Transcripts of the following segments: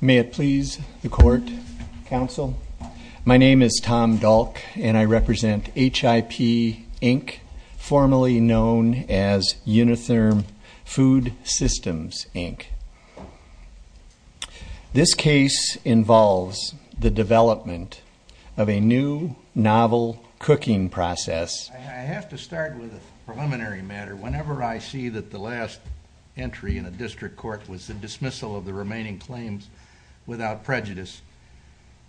May it please the court. Counsel. My name is Tom Dalk, and I represent HIP, Inc., formerly known as Unitherm Food Systems, Inc. This case involves the development of a new, novel cooking process. I have to start with a preliminary matter. Whenever I see that the last entry in a district court was the dismissal of the remaining claims without prejudice,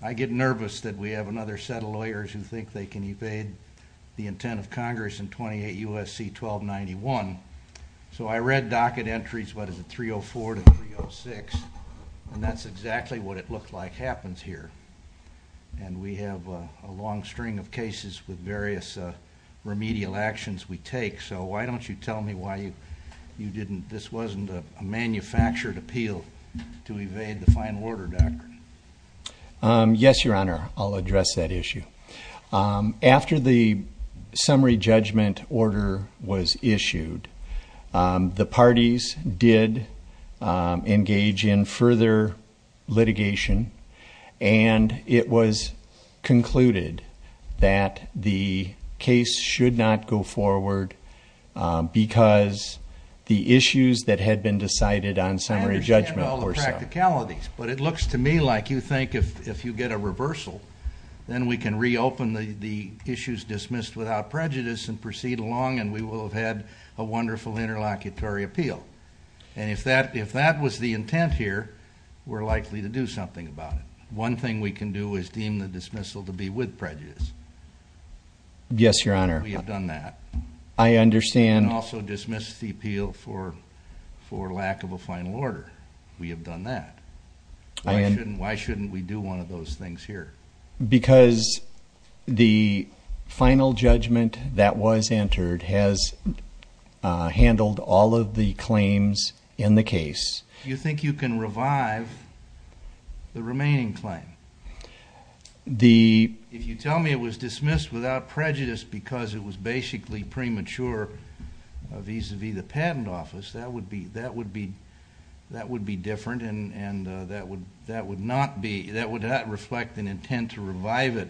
I get nervous that we have another set of lawyers who think they can evade the intent of Congress in 28 U.S.C. 1291. So I read docket entries, what is it, 304 to 306, and that's exactly what it looked like happens here. And we have a long string of cases with various remedial actions we take, so why don't you tell me why this wasn't a manufactured appeal to evade the final order doctrine. Yes, Your Honor, I'll address that issue. After the summary judgment order was issued, the parties did engage in further litigation, and it was concluded that the case should not go forward because the issues that had been decided on summary judgment were so. I understand all the practicalities, but it looks to me like you think if you get a reversal, then we can reopen the issues dismissed without prejudice and proceed along, and we will have had a wonderful interlocutory appeal. And if that was the intent here, we're likely to do something about it. One thing we can do is deem the dismissal to be with prejudice. Yes, Your Honor. We have done that. I understand. And also dismiss the appeal for lack of a final order. We have done that. Why shouldn't we do one of those things here? Because the final judgment that was entered has handled all of the claims in the case. You think you can revive the remaining claim? If you tell me it was dismissed without prejudice because it was basically premature vis-à-vis the patent office, that would be different, and that would not reflect an intent to revive it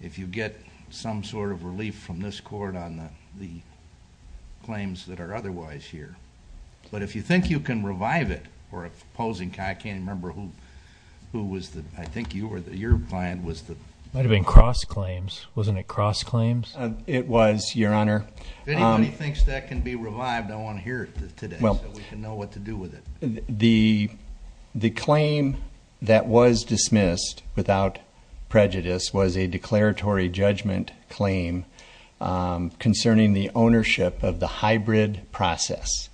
if you get some sort of relief from this court on the claims that are otherwise here. But if you think you can revive it, or if opposing, I can't remember who was the, I think your client was the... It might have been Cross Claims. Wasn't it Cross Claims? It was, Your Honor. If anybody thinks that can be revived, I want to hear it today so we can know what to do with it. The claim that was dismissed without prejudice was a declaratory judgment claim concerning the ownership of the hybrid process,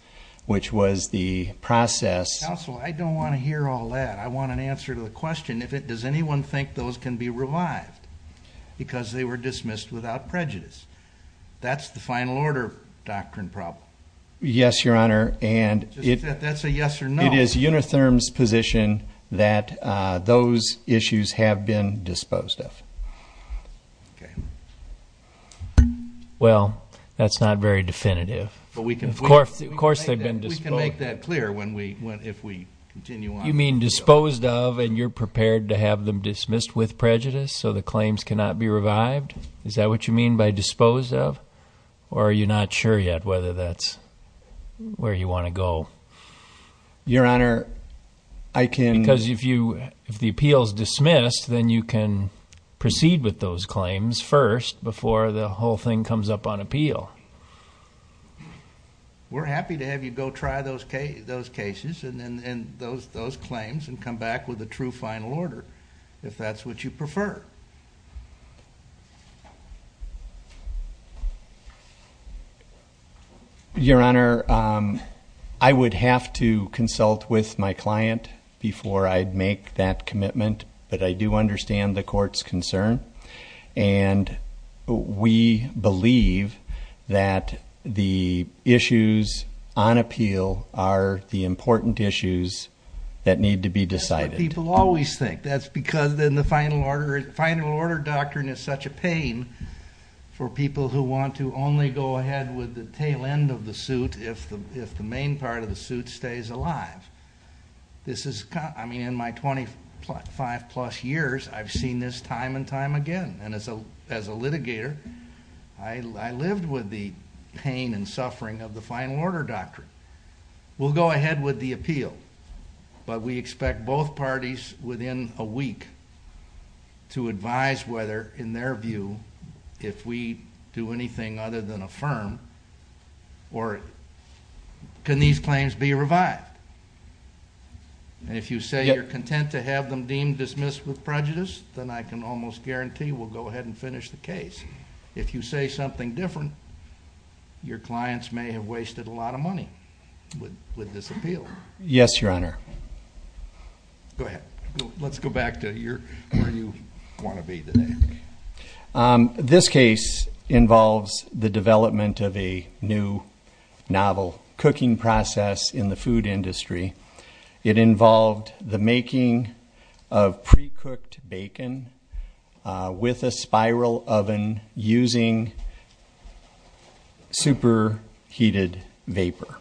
which was the process... Counsel, I don't want to hear all that. I want an answer to the question. Does anyone think those can be revived because they were dismissed without prejudice? That's the final order doctrine problem. Yes, Your Honor. That's a yes or no. It is Unitherm's position that those issues have been disposed of. Okay. Well, that's not very definitive. Of course they've been disposed of. We can make that clear if we continue on. You mean disposed of and you're prepared to have them dismissed with prejudice so the claims cannot be revived? Is that what you mean by disposed of? Or are you not sure yet whether that's where you want to go? Your Honor, I can... Because if the appeal is dismissed, then you can proceed with those claims first before the whole thing comes up on appeal. We're happy to have you go try those cases and those claims and come back with a true final order if that's what you prefer. Your Honor, I would have to consult with my client before I'd make that commitment, but I do understand the court's concern. And we believe that the issues on appeal are the important issues that need to be decided. That's what people always think. That's because then the final order doctrine is such a pain for people who want to only go ahead with the tail end of the suit if the main part of the suit stays alive. In my 25-plus years, I've seen this time and time again. And as a litigator, I lived with the pain and suffering of the final order doctrine. We'll go ahead with the appeal, but we expect both parties within a week to advise whether, in their view, if we do anything other than affirm or can these claims be revived. And if you say you're content to have them deemed dismissed with prejudice, then I can almost guarantee we'll go ahead and finish the case. If you say something different, your clients may have wasted a lot of money with this appeal. Yes, Your Honor. Go ahead. Let's go back to where you want to be today. This case involves the development of a new novel cooking process in the food industry. It involved the making of precooked bacon with a spiral oven using superheated vapor.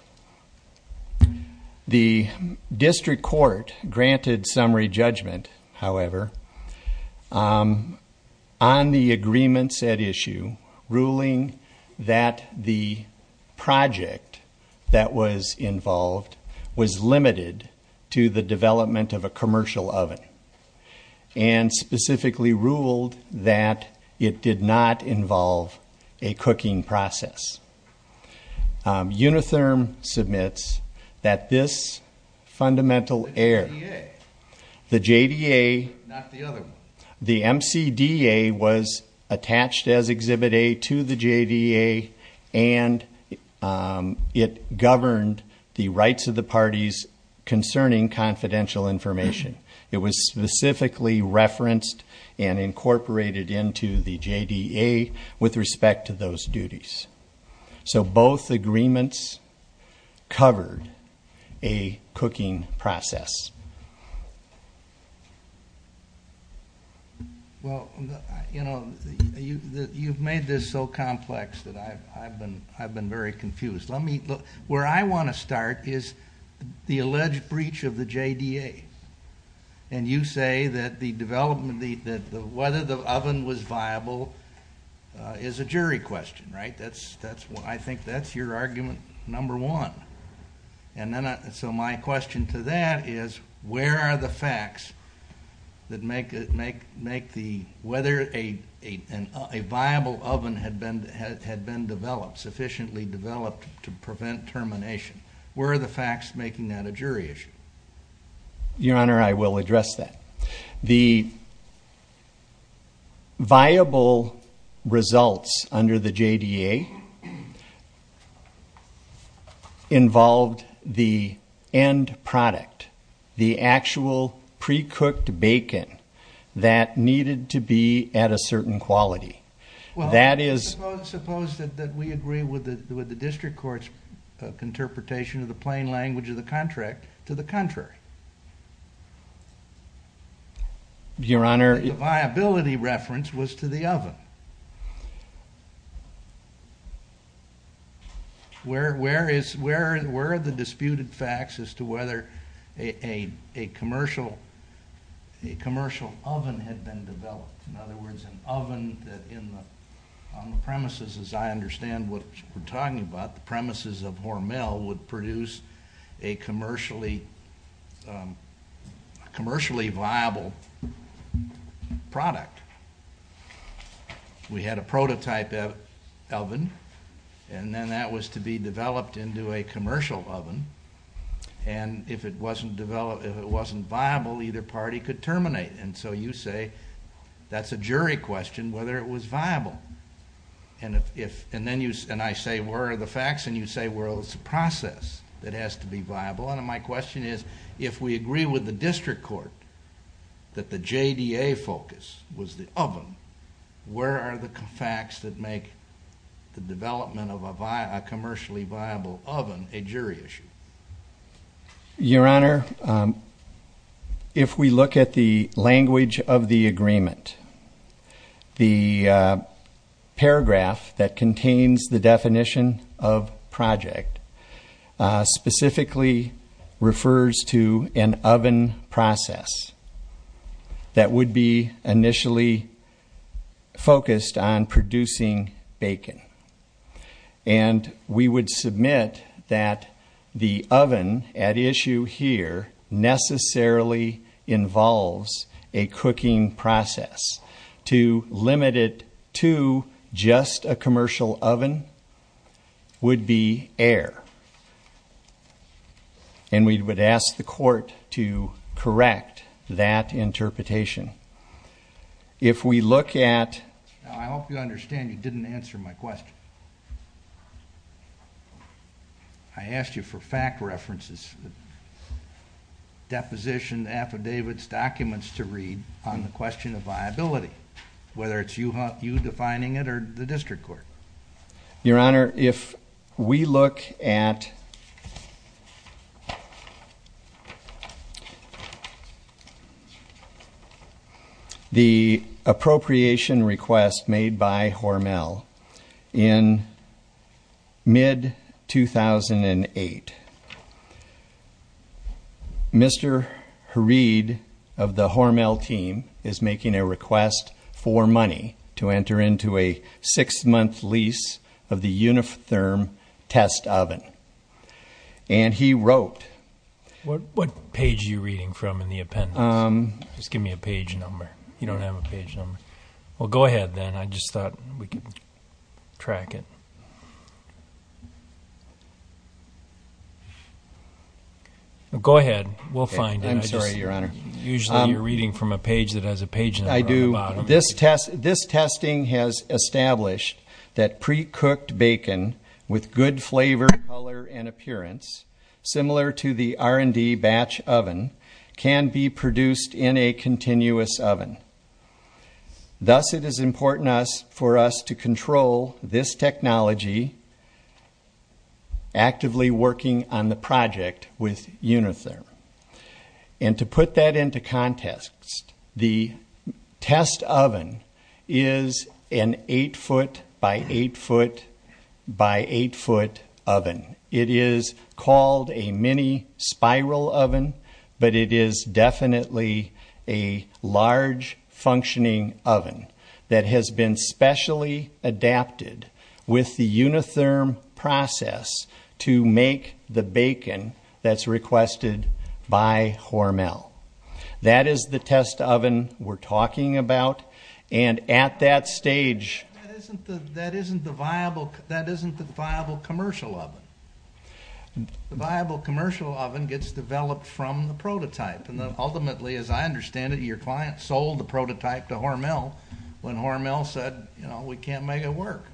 The district court granted summary judgment, however, on the agreements at issue, ruling that the project that was involved was limited to the development of a commercial oven and specifically ruled that it did not involve a cooking process. Unitherm submits that this fundamental error, the JDA, the MCDA was attached as Exhibit A to the JDA and it governed the rights of the parties concerning confidential information. It was specifically referenced and incorporated into the JDA with respect to those duties. So both agreements covered a cooking process. Well, you know, you've made this so complex that I've been very confused. Where I want to start is the alleged breach of the JDA and you say that whether the oven was viable is a jury question, right? I think that's your argument number one. So my question to that is where are the facts that make whether a viable oven had been developed, sufficiently developed to prevent termination, where are the facts making that a jury issue? Your Honor, I will address that. The viable results under the JDA involved the end product, the actual pre-cooked bacon that needed to be at a certain quality. Well, suppose that we agree with the district court's interpretation of the plain language of the contract to the contrary. Your Honor... The viability reference was to the oven. Where are the disputed facts as to whether a commercial oven had been developed? In other words, an oven that on the premises, as I understand what we're talking about, the premises of Hormel, would produce a commercially viable product. We had a prototype oven and then that was to be developed into a commercial oven and if it wasn't viable, either party could terminate. And so you say that's a jury question, whether it was viable. And I say where are the facts and you say it's a process that has to be viable. And my question is, if we agree with the district court that the JDA focus was the oven, where are the facts that make the development of a commercially viable oven a jury issue? Your Honor, if we look at the language of the agreement, the paragraph that contains the definition of project specifically refers to an oven process that would be initially focused on producing bacon. And we would submit that the oven at issue here necessarily involves a cooking process. To limit it to just a commercial oven would be error. And we would ask the court to correct that interpretation. If we look at... I hope you understand you didn't answer my question. I asked you for fact references. Deposition, affidavits, documents to read on the question of viability, whether it's you defining it or the district court. Your Honor, if we look at... the appropriation request made by Hormel in mid-2008, Mr. Harid of the Hormel team is making a request for money to enter into a six-month lease of the Unitherm test oven. And he wrote... What page are you reading from in the appendix? Just give me a page number. You don't have a page number. Well, go ahead then. I just thought we could track it. Go ahead. We'll find it. I'm sorry, Your Honor. Usually you're reading from a page that has a page number on the bottom. This testing has established that pre-cooked bacon with good flavor, color, and appearance, similar to the R&D batch oven, can be produced in a continuous oven. Thus, it is important for us to control this technology actively working on the project with Unitherm. And to put that into context, the test oven is an 8-foot by 8-foot by 8-foot oven. It is called a mini spiral oven, but it is definitely a large functioning oven that has been specially adapted with the Unitherm process to make the bacon that's requested by Hormel. That is the test oven we're talking about. And at that stage... That isn't the viable commercial oven. The viable commercial oven gets developed from the prototype. And ultimately, as I understand it, your client sold the prototype to Hormel when Hormel said, you know, we can't make it work.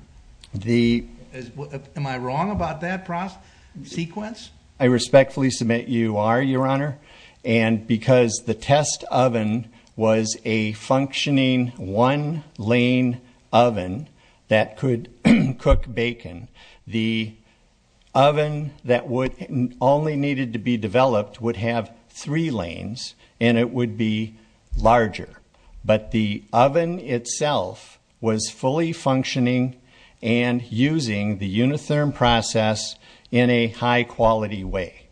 Am I wrong about that sequence? I respectfully submit you are, Your Honor. And because the test oven was a functioning one-lane oven that could cook bacon, the oven that only needed to be developed would have three lanes, and it would be larger. But the oven itself was fully functioning and using the Unitherm process in a high-quality way.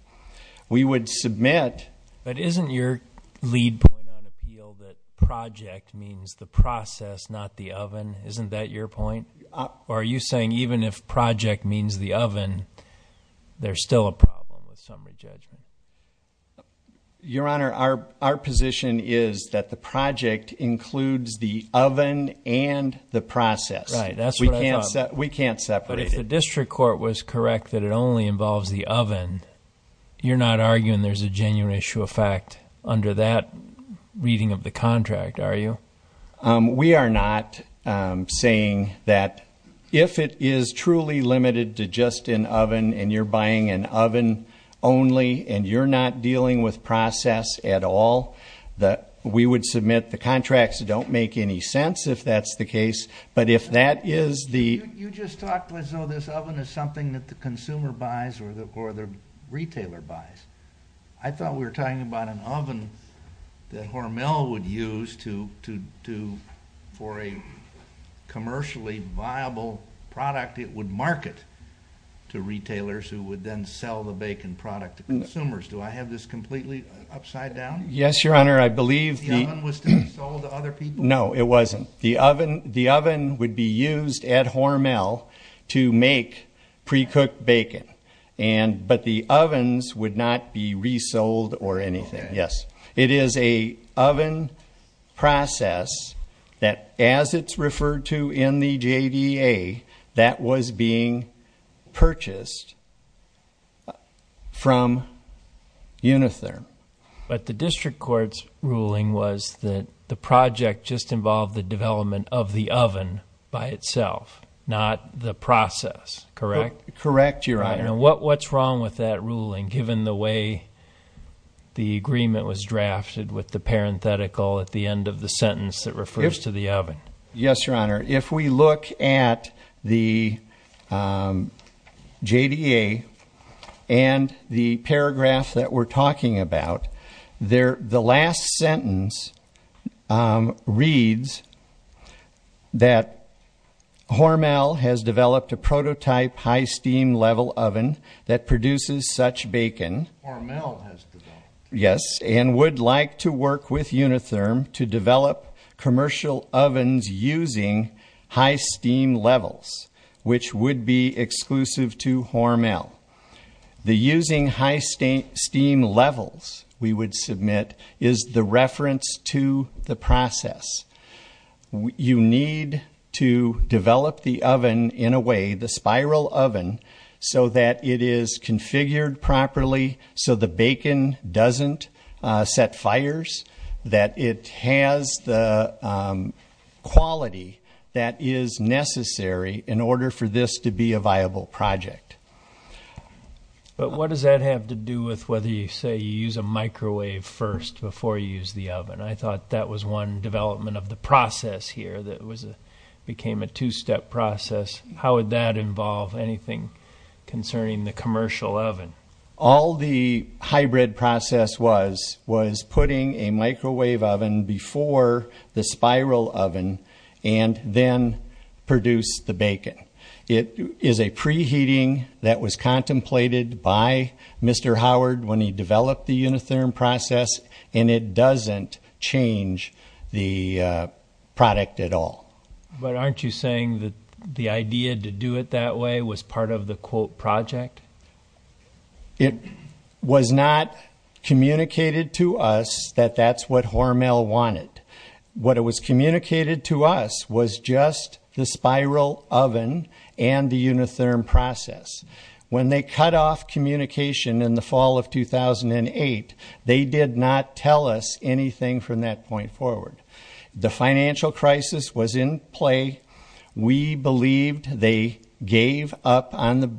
We would submit... But isn't your lead point on appeal that project means the process, not the oven? Isn't that your point? Or are you saying even if project means the oven, there's still a problem with summary judgment? Your Honor, our position is that the project includes the oven and the process. Right, that's what I thought. We can't separate it. But if the district court was correct that it only involves the oven, you're not arguing there's a genuine issue of fact under that reading of the contract, are you? We are not saying that if it is truly limited to just an oven and you're buying an oven only and you're not dealing with process at all, we would submit the contracts don't make any sense, if that's the case. But if that is the... You just talked as though this oven is something that the consumer buys or the retailer buys. I thought we were talking about an oven that Hormel would use for a commercially viable product it would market to retailers who would then sell the bacon product to consumers. Do I have this completely upside down? Yes, Your Honor, I believe... The oven was to be sold to other people? No, it wasn't. The oven would be used at Hormel to make precooked bacon. But the ovens would not be resold or anything, yes. It is a oven process that as it's referred to in the JDA that was being purchased from Unitherm. But the district court's ruling was that the project just involved the development of the oven by itself, not the process, correct? What's wrong with that ruling given the way the agreement was drafted with the parenthetical at the end of the sentence that refers to the oven? Yes, Your Honor, if we look at the JDA and the paragraph that we're talking about, the last sentence reads that Hormel has developed a prototype high-steam level oven that produces such bacon. Hormel has developed? Yes, and would like to work with Unitherm to develop commercial ovens using high-steam levels, which would be exclusive to Hormel. The using high-steam levels, we would submit, is the reference to the process. You need to develop the oven in a way, the spiral oven, so that it is configured properly, so the bacon doesn't set fires, that it has the quality that is necessary in order for this to be a viable project. But what does that have to do with whether you say you use a microwave first before you use the oven? I thought that was one development of the process here that became a two-step process. How would that involve anything concerning the commercial oven? All the hybrid process was was putting a microwave oven before the spiral oven and then produce the bacon. It is a preheating that was contemplated by Mr. Howard when he developed the Unitherm process, and it doesn't change the product at all. But aren't you saying that the idea to do it that way was part of the, quote, project? It was not communicated to us that that's what Hormel wanted. What was communicated to us was just the spiral oven and the Unitherm process. When they cut off communication in the fall of 2008, they did not tell us anything from that point forward. The financial crisis was in play. We believed they gave up on the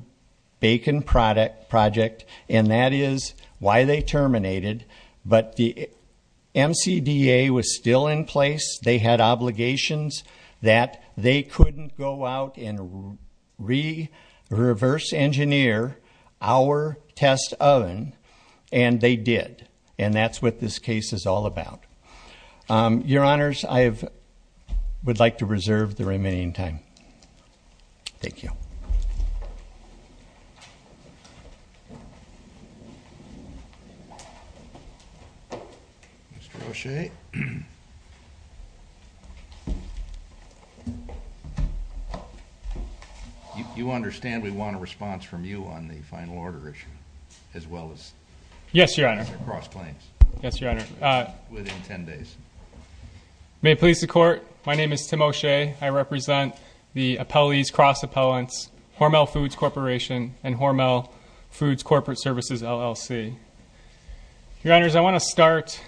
bacon project, and that is why they terminated. But the MCDA was still in place. They had obligations that they couldn't go out and reverse-engineer our test oven, and they did. And that's what this case is all about. Your Honors, I would like to reserve the remaining time. Thank you. Mr. O'Shea? You understand we want a response from you on the final order issue as well as the cross-claims? Yes, Your Honor. Within 10 days. May it please the Court, my name is Tim O'Shea. I represent the appellees, cross-appellants, Hormel Foods Corporation and Hormel Foods Corporate Services, LLC. Your Honors, I want to start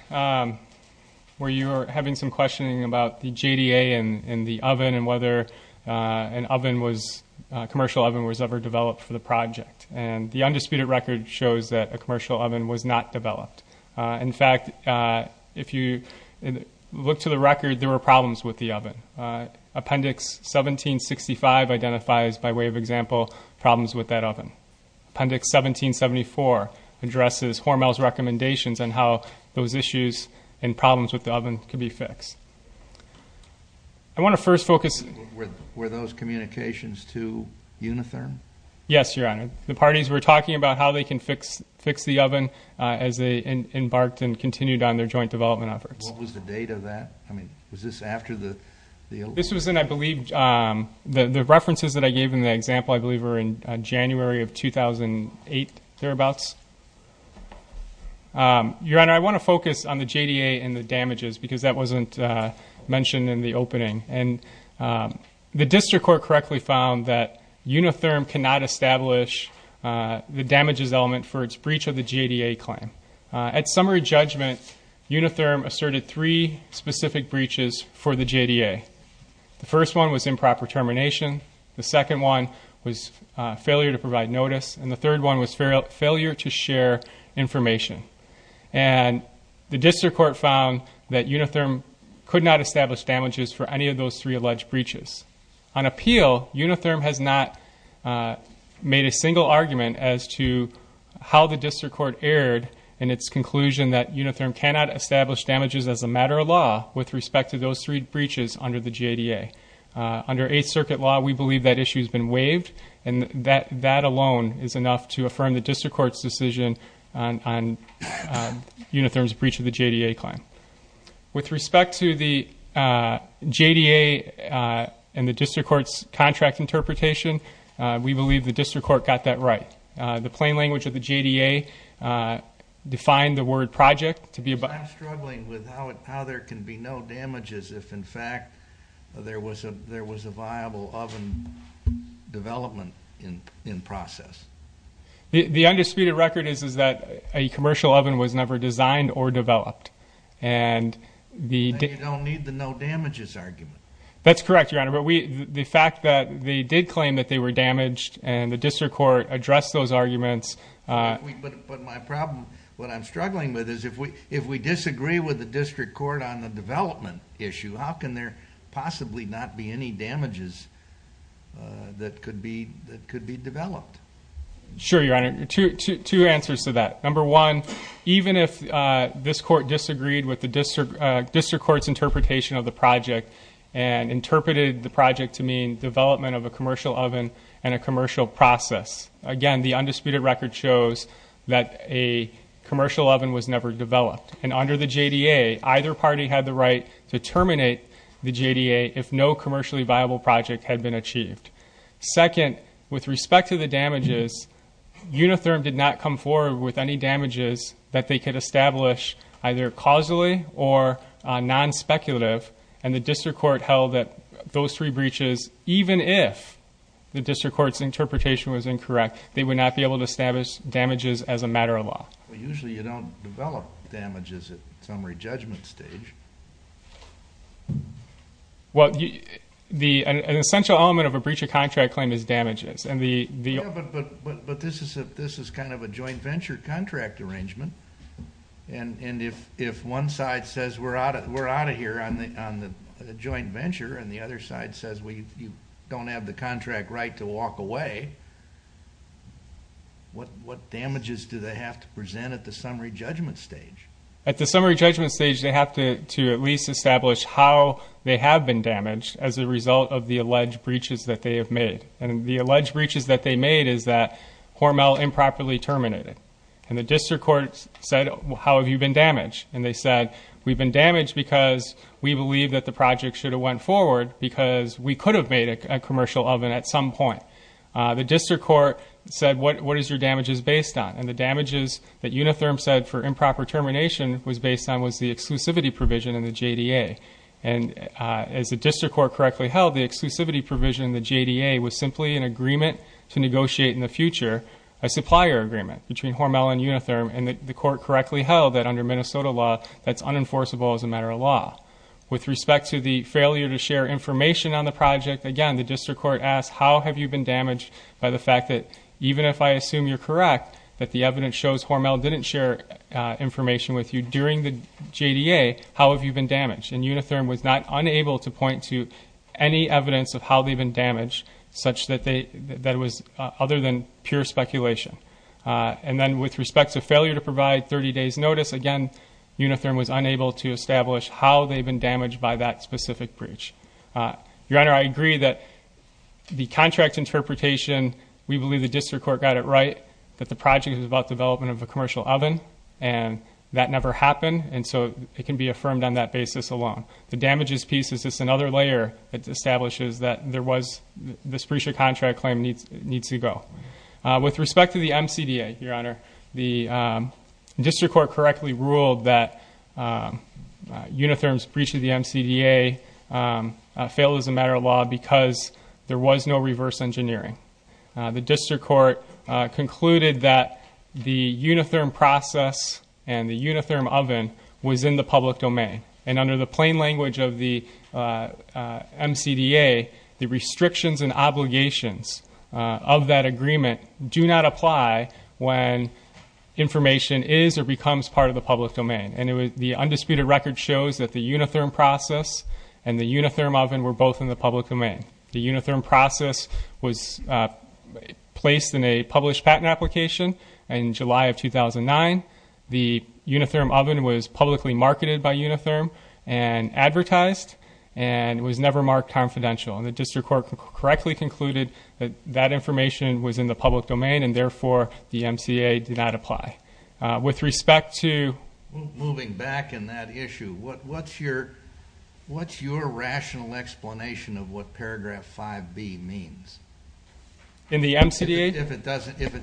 where you were having some questioning about the JDA and the oven and whether a commercial oven was ever developed for the project. And the undisputed record shows that a commercial oven was not developed. In fact, if you look to the record, there were problems with the oven. Appendix 1765 identifies, by way of example, problems with that oven. Appendix 1774 addresses Hormel's recommendations on how those issues and problems with the oven could be fixed. I want to first focus... Were those communications to Unitherm? Yes, Your Honor. The parties were talking about how they can fix the oven as they embarked and continued on their joint development efforts. What was the date of that? I mean, was this after the... This was in, I believe, the references that I gave in the example, I believe, were in January of 2008, thereabouts. Your Honor, I want to focus on the JDA and the damages because that wasn't mentioned in the opening. The district court correctly found that Unitherm cannot establish the damages element for its breach of the JDA claim. At summary judgment, Unitherm asserted three specific breaches for the JDA. The first one was improper termination. The second one was failure to provide notice. And the third one was failure to share information. And the district court found that Unitherm could not establish damages for any of those three alleged breaches. On appeal, Unitherm has not made a single argument as to how the district court erred in its conclusion that Unitherm cannot establish damages as a matter of law with respect to those three breaches under the JDA. Under Eighth Circuit law, we believe that issue has been waived, and that alone is enough to affirm the district court's decision on Unitherm's breach of the JDA claim. With respect to the JDA and the district court's contract interpretation, we believe the district court got that right. The plain language of the JDA defined the word project to be a... I'm struggling with how there can be no damages if, in fact, there was a viable oven development in process. The undisputed record is that a commercial oven was never designed or developed. And you don't need the no damages argument. That's correct, Your Honor. But the fact that they did claim that they were damaged and the district court addressed those arguments... But my problem, what I'm struggling with, is if we disagree with the district court on the development issue, how can there possibly not be any damages that could be developed? Sure, Your Honor. Two answers to that. Number one, even if this court disagreed with the district court's interpretation of the project and interpreted the project to mean development of a commercial oven and a commercial process, again, the undisputed record shows that a commercial oven was never developed. And under the JDA, either party had the right to terminate the JDA if no commercially viable project had been achieved. Second, with respect to the damages, Unitherm did not come forward with any damages that they could establish either causally or non-speculative. And the district court held that those three breaches, even if the district court's interpretation was incorrect, they would not be able to establish damages as a matter of law. Well, usually you don't develop damages at summary judgment stage. But this is kind of a joint venture contract arrangement. And if one side says we're out of here on the joint venture and the other side says we don't have the contract right to walk away, what damages do they have to present at the summary judgment stage? At the summary judgment stage, they have to at least establish how they have been damaged as a result of the alleged breaches that they have made. And the alleged breaches that they made is that Hormel improperly terminated. And the district court said, how have you been damaged? And they said, we've been damaged because we believe that the project should have went forward because we could have made a commercial oven at some point. The district court said, what is your damages based on? And the damages that Unitherm said for improper termination was based on was the exclusivity provision in the JDA. And as the district court correctly held, the exclusivity provision in the JDA was simply an agreement to negotiate in the future, a supplier agreement between Hormel and Unitherm. And the court correctly held that under Minnesota law, that's unenforceable as a matter of law. With respect to the failure to share information on the project, again, the district court asked, how have you been damaged by the fact that even if I assume you're correct, that the evidence shows Hormel didn't share information with you during the JDA, how have you been damaged? And Unitherm was not unable to point to any evidence of how they've been damaged, such that it was other than pure speculation. And then with respect to failure to provide 30 days notice, again, Unitherm was unable to establish how they've been damaged by that specific breach. Your Honor, I agree that the contract interpretation, we believe the district court got it right, that the project is about development of a commercial oven, and that never happened. And so it can be affirmed on that basis alone. The damages piece is just another layer that establishes that there was, this breach of contract claim needs to go. With respect to the MCDA, Your Honor, the district court correctly ruled that Unitherm's breach of the MCDA failed as a matter of law because there was no reverse engineering. The district court concluded that the Unitherm process and the Unitherm oven was in the public domain. And under the plain language of the MCDA, the restrictions and obligations of that agreement do not apply when information is or becomes part of the public domain. And the undisputed record shows that the Unitherm process and the Unitherm oven were both in the public domain. The Unitherm process was placed in a published patent application in July of 2009. The Unitherm oven was publicly marketed by Unitherm and advertised, and it was never marked confidential. And the district court correctly concluded that that information was in the public domain, and therefore the MCDA did not apply. With respect to moving back in that issue, what's your rational explanation of what paragraph 5B means? In the MCDA? If it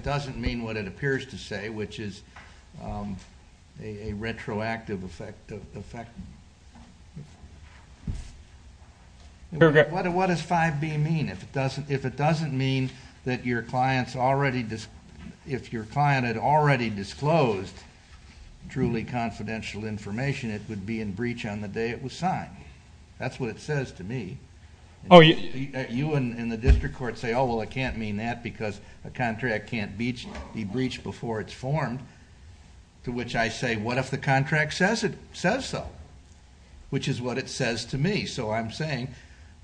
doesn't mean what it appears to say, which is a retroactive effect. What does 5B mean? If it doesn't mean that your client had already disclosed truly confidential information, it would be in breach on the day it was signed. That's what it says to me. You and the district court say, oh, well, I can't mean that because a contract can't be breached before it's formed, to which I say, what if the contract says so, which is what it says to me. So I'm saying,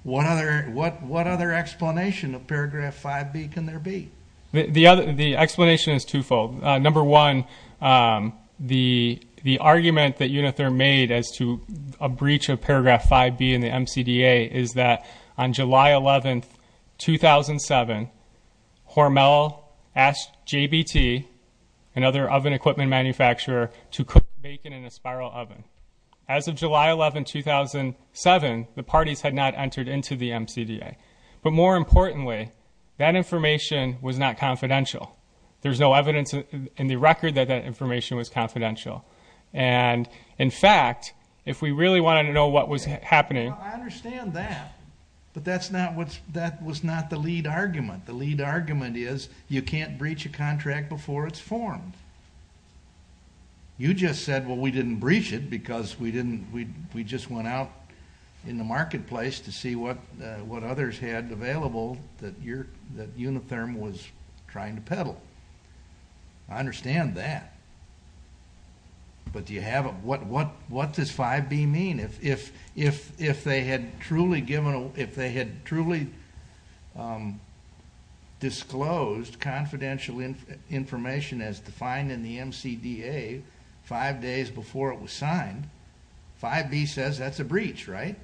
what other explanation of paragraph 5B can there be? The explanation is twofold. Number one, the argument that Unitherm made as to a breach of paragraph 5B in the MCDA is that on July 11, 2007, Hormel asked JBT, another oven equipment manufacturer, to cook bacon in a spiral oven. As of July 11, 2007, the parties had not entered into the MCDA. But more importantly, that information was not confidential. There's no evidence in the record that that information was confidential. And, in fact, if we really wanted to know what was happening. I understand that, but that was not the lead argument. The lead argument is you can't breach a contract before it's formed. You just said, well, we didn't breach it because we just went out in the marketplace to see what others had available that Unitherm was trying to peddle. I understand that. But what does 5B mean? If they had truly disclosed confidential information as defined in the MCDA five days before it was signed, 5B says that's a breach, right?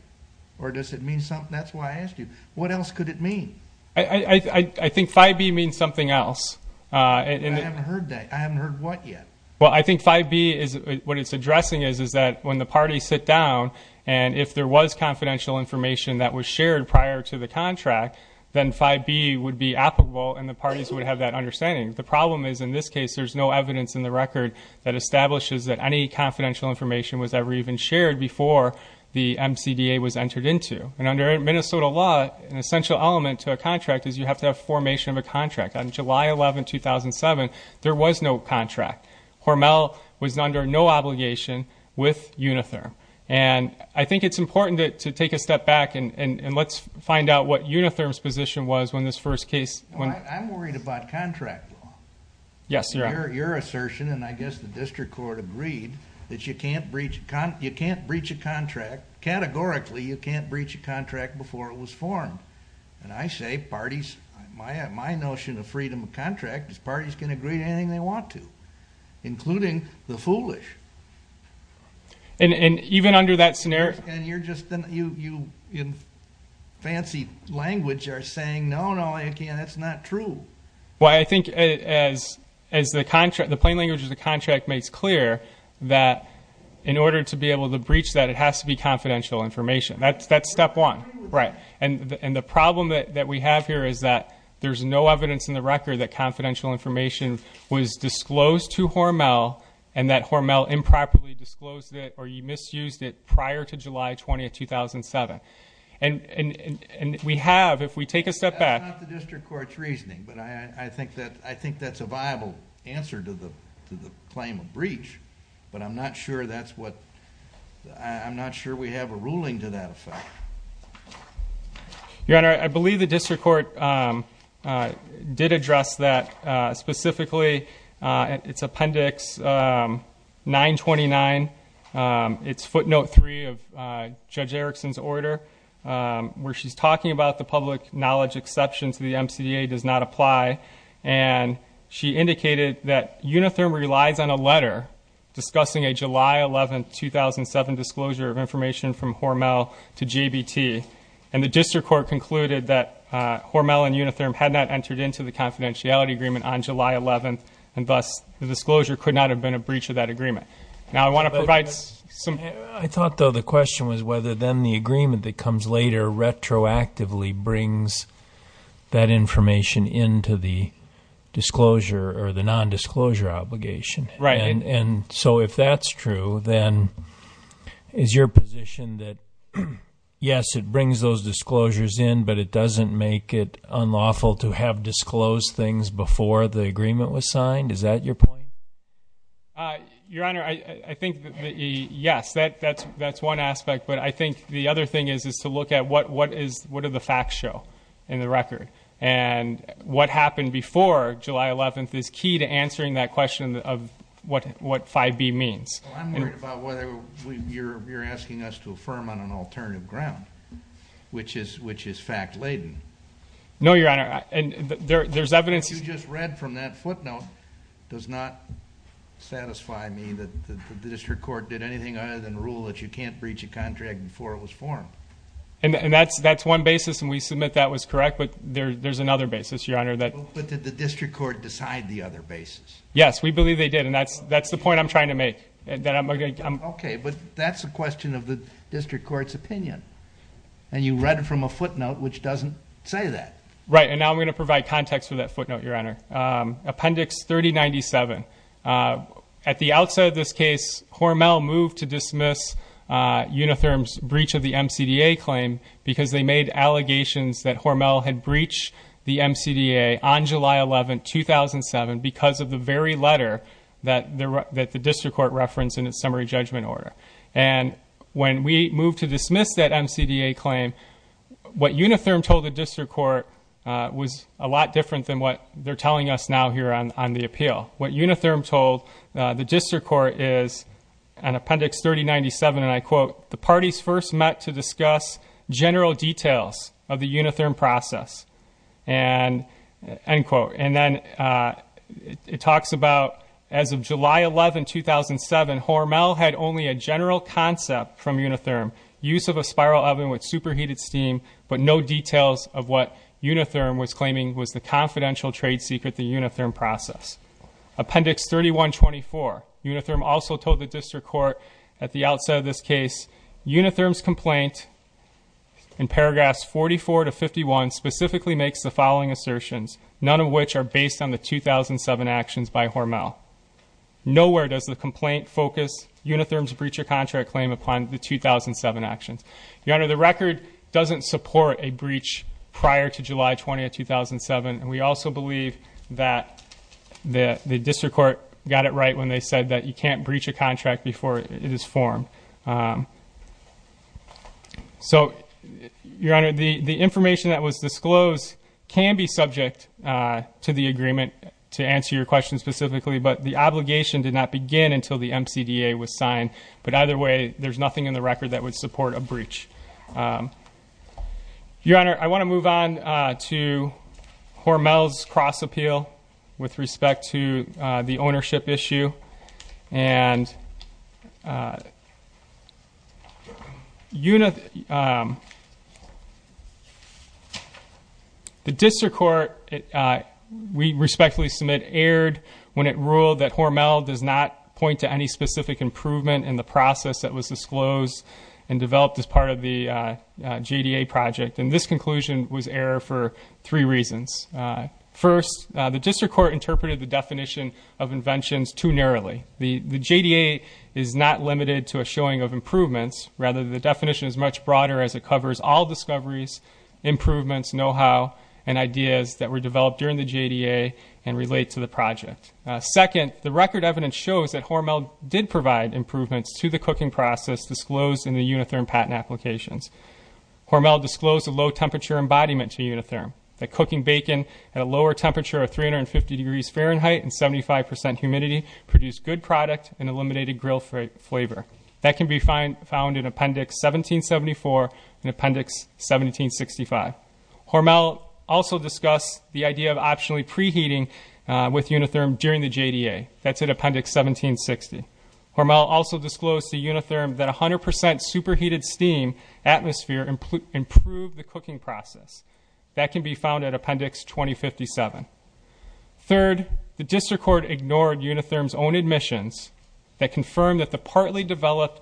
Or does it mean something? That's why I asked you. What else could it mean? I think 5B means something else. I haven't heard what yet. Well, I think 5B, what it's addressing is that when the parties sit down and if there was confidential information that was shared prior to the contract, then 5B would be applicable and the parties would have that understanding. The problem is, in this case, there's no evidence in the record that establishes that any confidential information was ever even shared before the MCDA was entered into. And under Minnesota law, an essential element to a contract is you have to have formation of a contract. On July 11, 2007, there was no contract. Hormel was under no obligation with Unitherm. And I think it's important to take a step back and let's find out what Unitherm's position was when this first case. I'm worried about contract law. Yes, you are. Your assertion, and I guess the district court agreed, that you can't breach a contract. Categorically, you can't breach a contract before it was formed. And I say parties, my notion of freedom of contract is parties can agree to anything they want to, including the foolish. And even under that scenario? And you're just in fancy language are saying, no, no, that's not true. Well, I think as the plain language of the contract makes clear, that in order to be able to breach that, it has to be confidential information. That's step one. And the problem that we have here is that there's no evidence in the record that confidential information was disclosed to Hormel and that Hormel improperly disclosed it or you misused it prior to July 20, 2007. And we have, if we take a step back. It's not the district court's reasoning, but I think that's a viable answer to the claim of breach. But I'm not sure we have a ruling to that effect. Your Honor, I believe the district court did address that specifically. It's Appendix 929. It's footnote 3 of Judge Erickson's order, where she's talking about the public knowledge exception to the MCDA does not apply. And she indicated that Unitherm relies on a letter discussing a July 11, 2007, disclosure of information from Hormel to JBT. And the district court concluded that Hormel and Unitherm had not entered into the confidentiality agreement on July 11, and thus the disclosure could not have been a breach of that agreement. Now, I want to provide some. I thought, though, the question was whether then the agreement that comes later retroactively brings that information into the disclosure or the nondisclosure obligation. Right. And so if that's true, then is your position that, yes, it brings those disclosures in, but it doesn't make it unlawful to have disclosed things before the agreement was signed? Is that your point? Your Honor, I think, yes, that's one aspect. But I think the other thing is to look at what do the facts show in the record. And what happened before July 11th is key to answering that question of what 5B means. I'm worried about whether you're asking us to affirm on an alternative ground, which is fact-laden. No, Your Honor. What you just read from that footnote does not satisfy me that the district court did anything other than rule that you can't breach a contract before it was formed. And that's one basis, and we submit that was correct. But there's another basis, Your Honor. But did the district court decide the other basis? Yes, we believe they did, and that's the point I'm trying to make. Okay, but that's a question of the district court's opinion. And you read it from a footnote which doesn't say that. Right, and now I'm going to provide context for that footnote, Your Honor. Appendix 3097. At the outset of this case, Hormel moved to dismiss Unitherm's breach of the MCDA claim because they made allegations that Hormel had breached the MCDA on July 11th, 2007, because of the very letter that the district court referenced in its summary judgment order. And when we moved to dismiss that MCDA claim, what Unitherm told the district court was a lot different than what they're telling us now here on the appeal. What Unitherm told the district court is in Appendix 3097, and I quote, the parties first met to discuss general details of the Unitherm process, end quote. And then it talks about, as of July 11, 2007, Hormel had only a general concept from Unitherm, use of a spiral oven with superheated steam, but no details of what Unitherm was claiming was the confidential trade secret of the Unitherm process. Appendix 3124. Unitherm also told the district court at the outset of this case, Unitherm's complaint in paragraphs 44 to 51 specifically makes the following assertions, none of which are based on the 2007 actions by Hormel. Nowhere does the complaint focus Unitherm's breach of contract claim upon the 2007 actions. Your Honor, the record doesn't support a breach prior to July 20th, 2007, and we also believe that the district court got it right when they said that you can't breach a contract before it is formed. So, Your Honor, the information that was disclosed can be subject to the agreement to answer your question specifically, but the obligation did not begin until the MCDA was signed. But either way, there's nothing in the record that would support a breach. Your Honor, I want to move on to Hormel's cross appeal with respect to the ownership issue. And the district court, we respectfully submit, erred when it ruled that Hormel does not point to any specific improvement in the process that was disclosed and developed as part of the JDA project. And this conclusion was error for three reasons. First, the district court interpreted the definition of inventions too narrowly. The JDA is not limited to a showing of improvements. Rather, the definition is much broader as it covers all discoveries, improvements, know-how, and ideas that were developed during the JDA and relate to the project. Second, the record evidence shows that Hormel did provide improvements to the cooking process disclosed in the Unitherm patent applications. Hormel disclosed a low temperature embodiment to Unitherm. The cooking bacon at a lower temperature of 350 degrees Fahrenheit and 75% humidity produced good product and eliminated grill flavor. That can be found in Appendix 1774 and Appendix 1765. Hormel also discussed the idea of optionally preheating with Unitherm during the JDA. That's in Appendix 1760. Hormel also disclosed to Unitherm that 100% superheated steam atmosphere improved the cooking process. That can be found in Appendix 2057. Third, the district court ignored Unitherm's own admissions that confirmed that the partly developed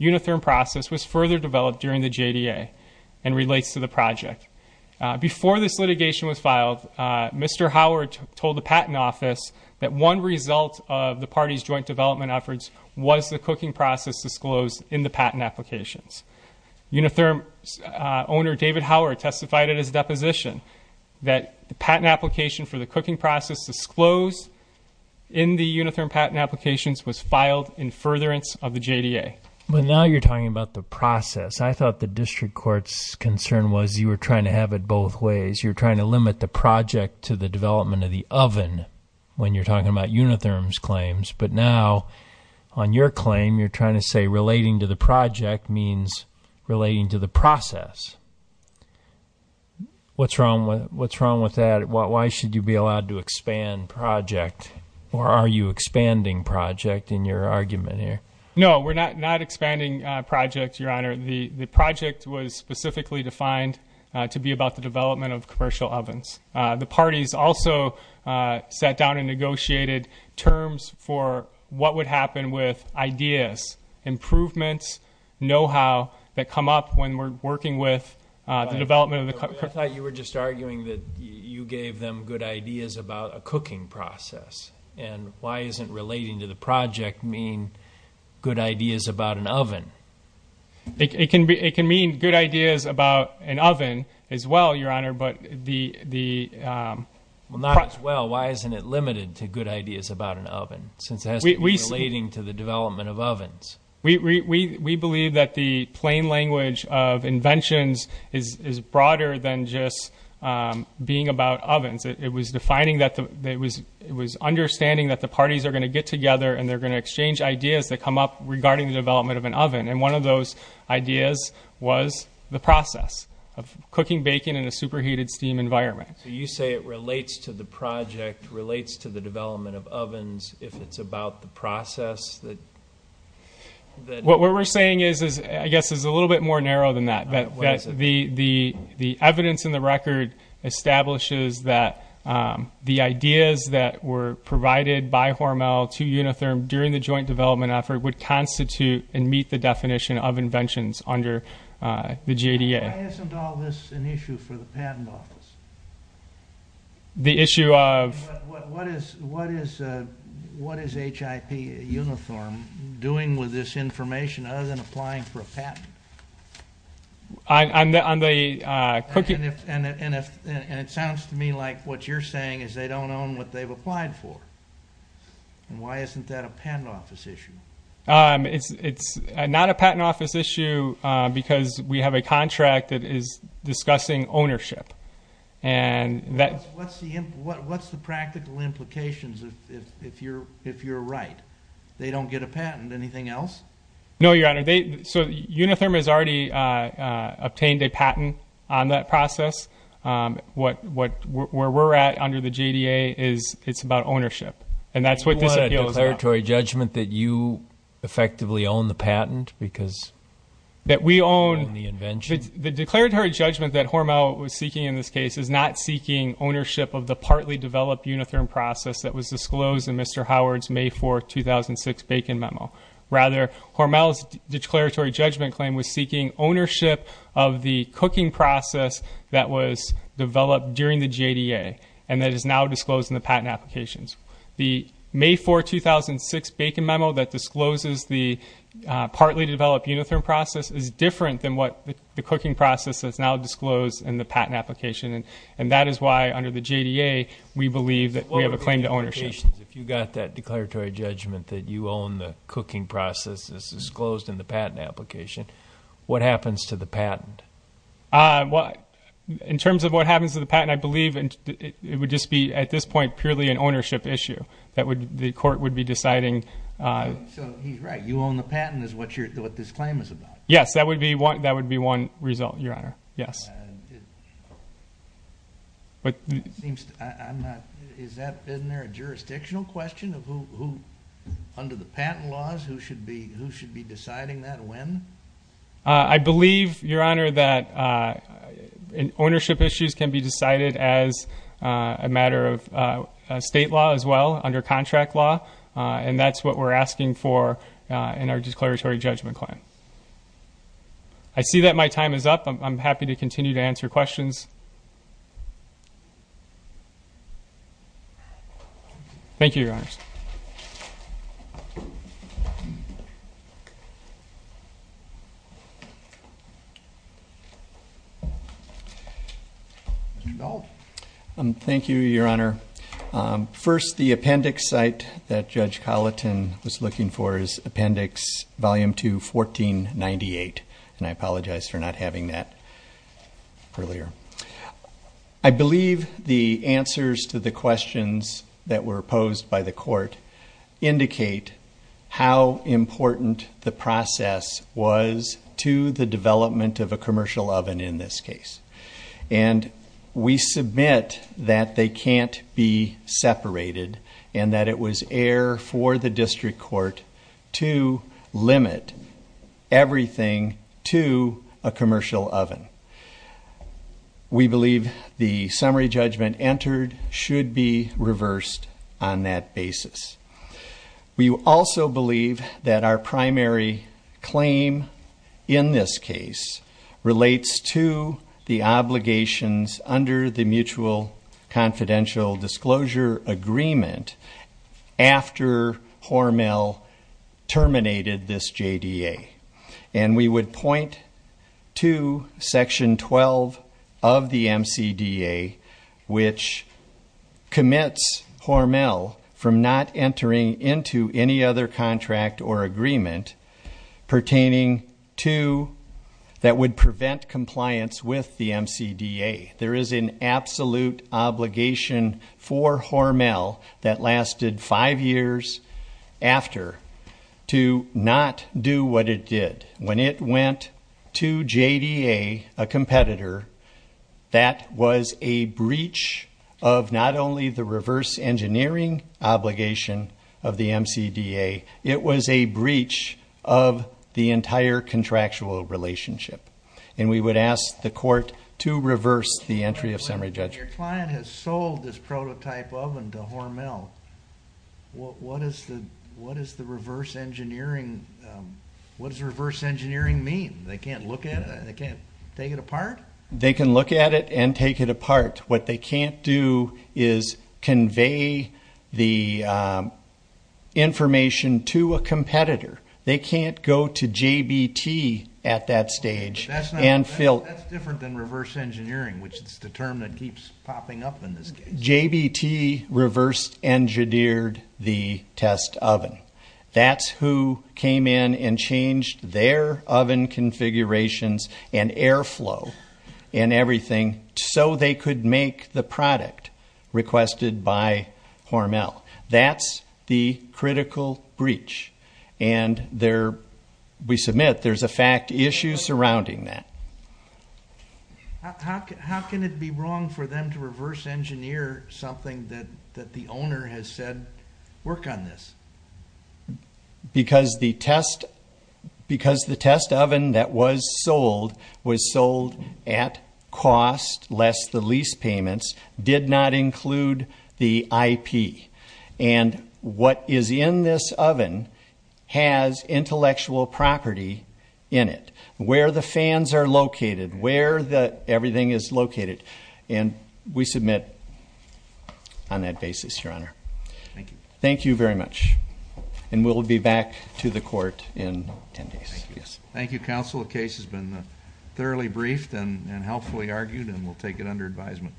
Unitherm process was further developed during the JDA and relates to the project. Before this litigation was filed, Mr. Howard told the patent office that one result of the party's joint development efforts was the cooking process disclosed in the patent applications. Unitherm owner David Howard testified at his deposition that the patent application for the cooking process disclosed in the Unitherm patent applications was filed in furtherance of the JDA. But now you're talking about the process. I thought the district court's concern was you were trying to have it both ways. You're trying to limit the project to the development of the oven when you're talking about Unitherm's claims. But now on your claim, you're trying to say relating to the project means relating to the process. What's wrong with that? Why should you be allowed to expand project? Or are you expanding project in your argument here? No, we're not expanding project, Your Honor. The project was specifically defined to be about the development of commercial ovens. The parties also sat down and negotiated terms for what would happen with ideas, improvements, know-how that come up when we're working with the development of the- I thought you were just arguing that you gave them good ideas about a cooking process. And why isn't relating to the project mean good ideas about an oven? It can mean good ideas about an oven as well, Your Honor. Well, not as well. Why isn't it limited to good ideas about an oven since it has to be relating to the development of ovens? We believe that the plain language of inventions is broader than just being about ovens. It was understanding that the parties are going to get together and they're going to exchange ideas that come up regarding the development of an oven. And one of those ideas was the process of cooking bacon in a superheated steam environment. So you say it relates to the project, relates to the development of ovens if it's about the process that- What we're saying is, I guess, is a little bit more narrow than that. The evidence in the record establishes that the ideas that were provided by Hormel to Unitherm during the joint development effort would constitute and meet the definition of inventions under the JDA. Why isn't all this an issue for the Patent Office? The issue of- What is HIP Unitherm doing with this information other than applying for a patent? On the cooking- And it sounds to me like what you're saying is they don't own what they've applied for. And why isn't that a Patent Office issue? It's not a Patent Office issue because we have a contract that is discussing ownership. And that- What's the practical implications if you're right? They don't get a patent, anything else? No, Your Honor. So Unitherm has already obtained a patent on that process. Where we're at under the JDA is it's about ownership. And that's what this appeal is about. You want a declaratory judgment that you effectively own the patent because you own the invention? The declaratory judgment that Hormel was seeking in this case is not seeking ownership of the partly developed Unitherm process that was disclosed in Mr. Howard's May 4, 2006, Bacon Memo. Rather, Hormel's declaratory judgment claim was seeking ownership of the cooking process that was developed during the JDA and that is now disclosed in the patent applications. The May 4, 2006, Bacon Memo that discloses the partly developed Unitherm process is different than what the cooking process has now disclosed in the patent application. And that is why, under the JDA, we believe that we have a claim to ownership. If you've got that declaratory judgment that you own the cooking process that's disclosed in the patent application, what happens to the patent? In terms of what happens to the patent, I believe it would just be, at this point, purely an ownership issue. The court would be deciding. So he's right. You own the patent is what this claim is about. Yes, that would be one result, Your Honor. Isn't there a jurisdictional question of who, under the patent laws, who should be deciding that, when? I believe, Your Honor, that ownership issues can be decided as a matter of state law as well, under contract law, and that's what we're asking for in our declaratory judgment claim. I see that my time is up. I'm happy to continue to answer questions. Thank you, Your Honors. Thank you, Your Honor. First, the appendix site that Judge Colleton was looking for is Appendix Volume 2, 1498, and I apologize for not having that earlier. I believe the answers to the questions that were posed by the court indicate how important the process was to the development of a commercial oven in this case. We submit that they can't be separated, and that it was air for the district court to limit everything to a commercial oven. We believe the summary judgment entered should be reversed on that basis. We also believe that our primary claim in this case relates to the obligations under the Mutual Confidential Disclosure Agreement after Hormel terminated this JDA. And we would point to Section 12 of the MCDA, which commits Hormel from not entering into any other contract or agreement pertaining to that would prevent compliance with the MCDA. There is an absolute obligation for Hormel that lasted five years after to not do what it did. When it went to JDA, a competitor, that was a breach of not only the reverse engineering obligation of the MCDA, it was a breach of the entire contractual relationship. And we would ask the court to reverse the entry of summary judgment. When your client has sold this prototype oven to Hormel, what does reverse engineering mean? They can't look at it? They can't take it apart? They can look at it and take it apart. What they can't do is convey the information to a competitor. They can't go to JBT at that stage and fill... That's different than reverse engineering, which is the term that keeps popping up in this case. JBT reversed engineered the test oven. That's who came in and changed their oven configurations and airflow and everything so they could make the product requested by Hormel. That's the critical breach. And we submit there's a fact issue surrounding that. How can it be wrong for them to reverse engineer something that the owner has said work on this? Because the test oven that was sold was sold at cost, lest the lease payments did not include the IP. And what is in this oven has intellectual property in it, where the fans are located, where everything is located. And we submit on that basis, Your Honor. Thank you. Thank you very much. And we'll be back to the court in 10 days. Thank you, counsel. The case has been thoroughly briefed and helpfully argued, and we'll take it under advisement.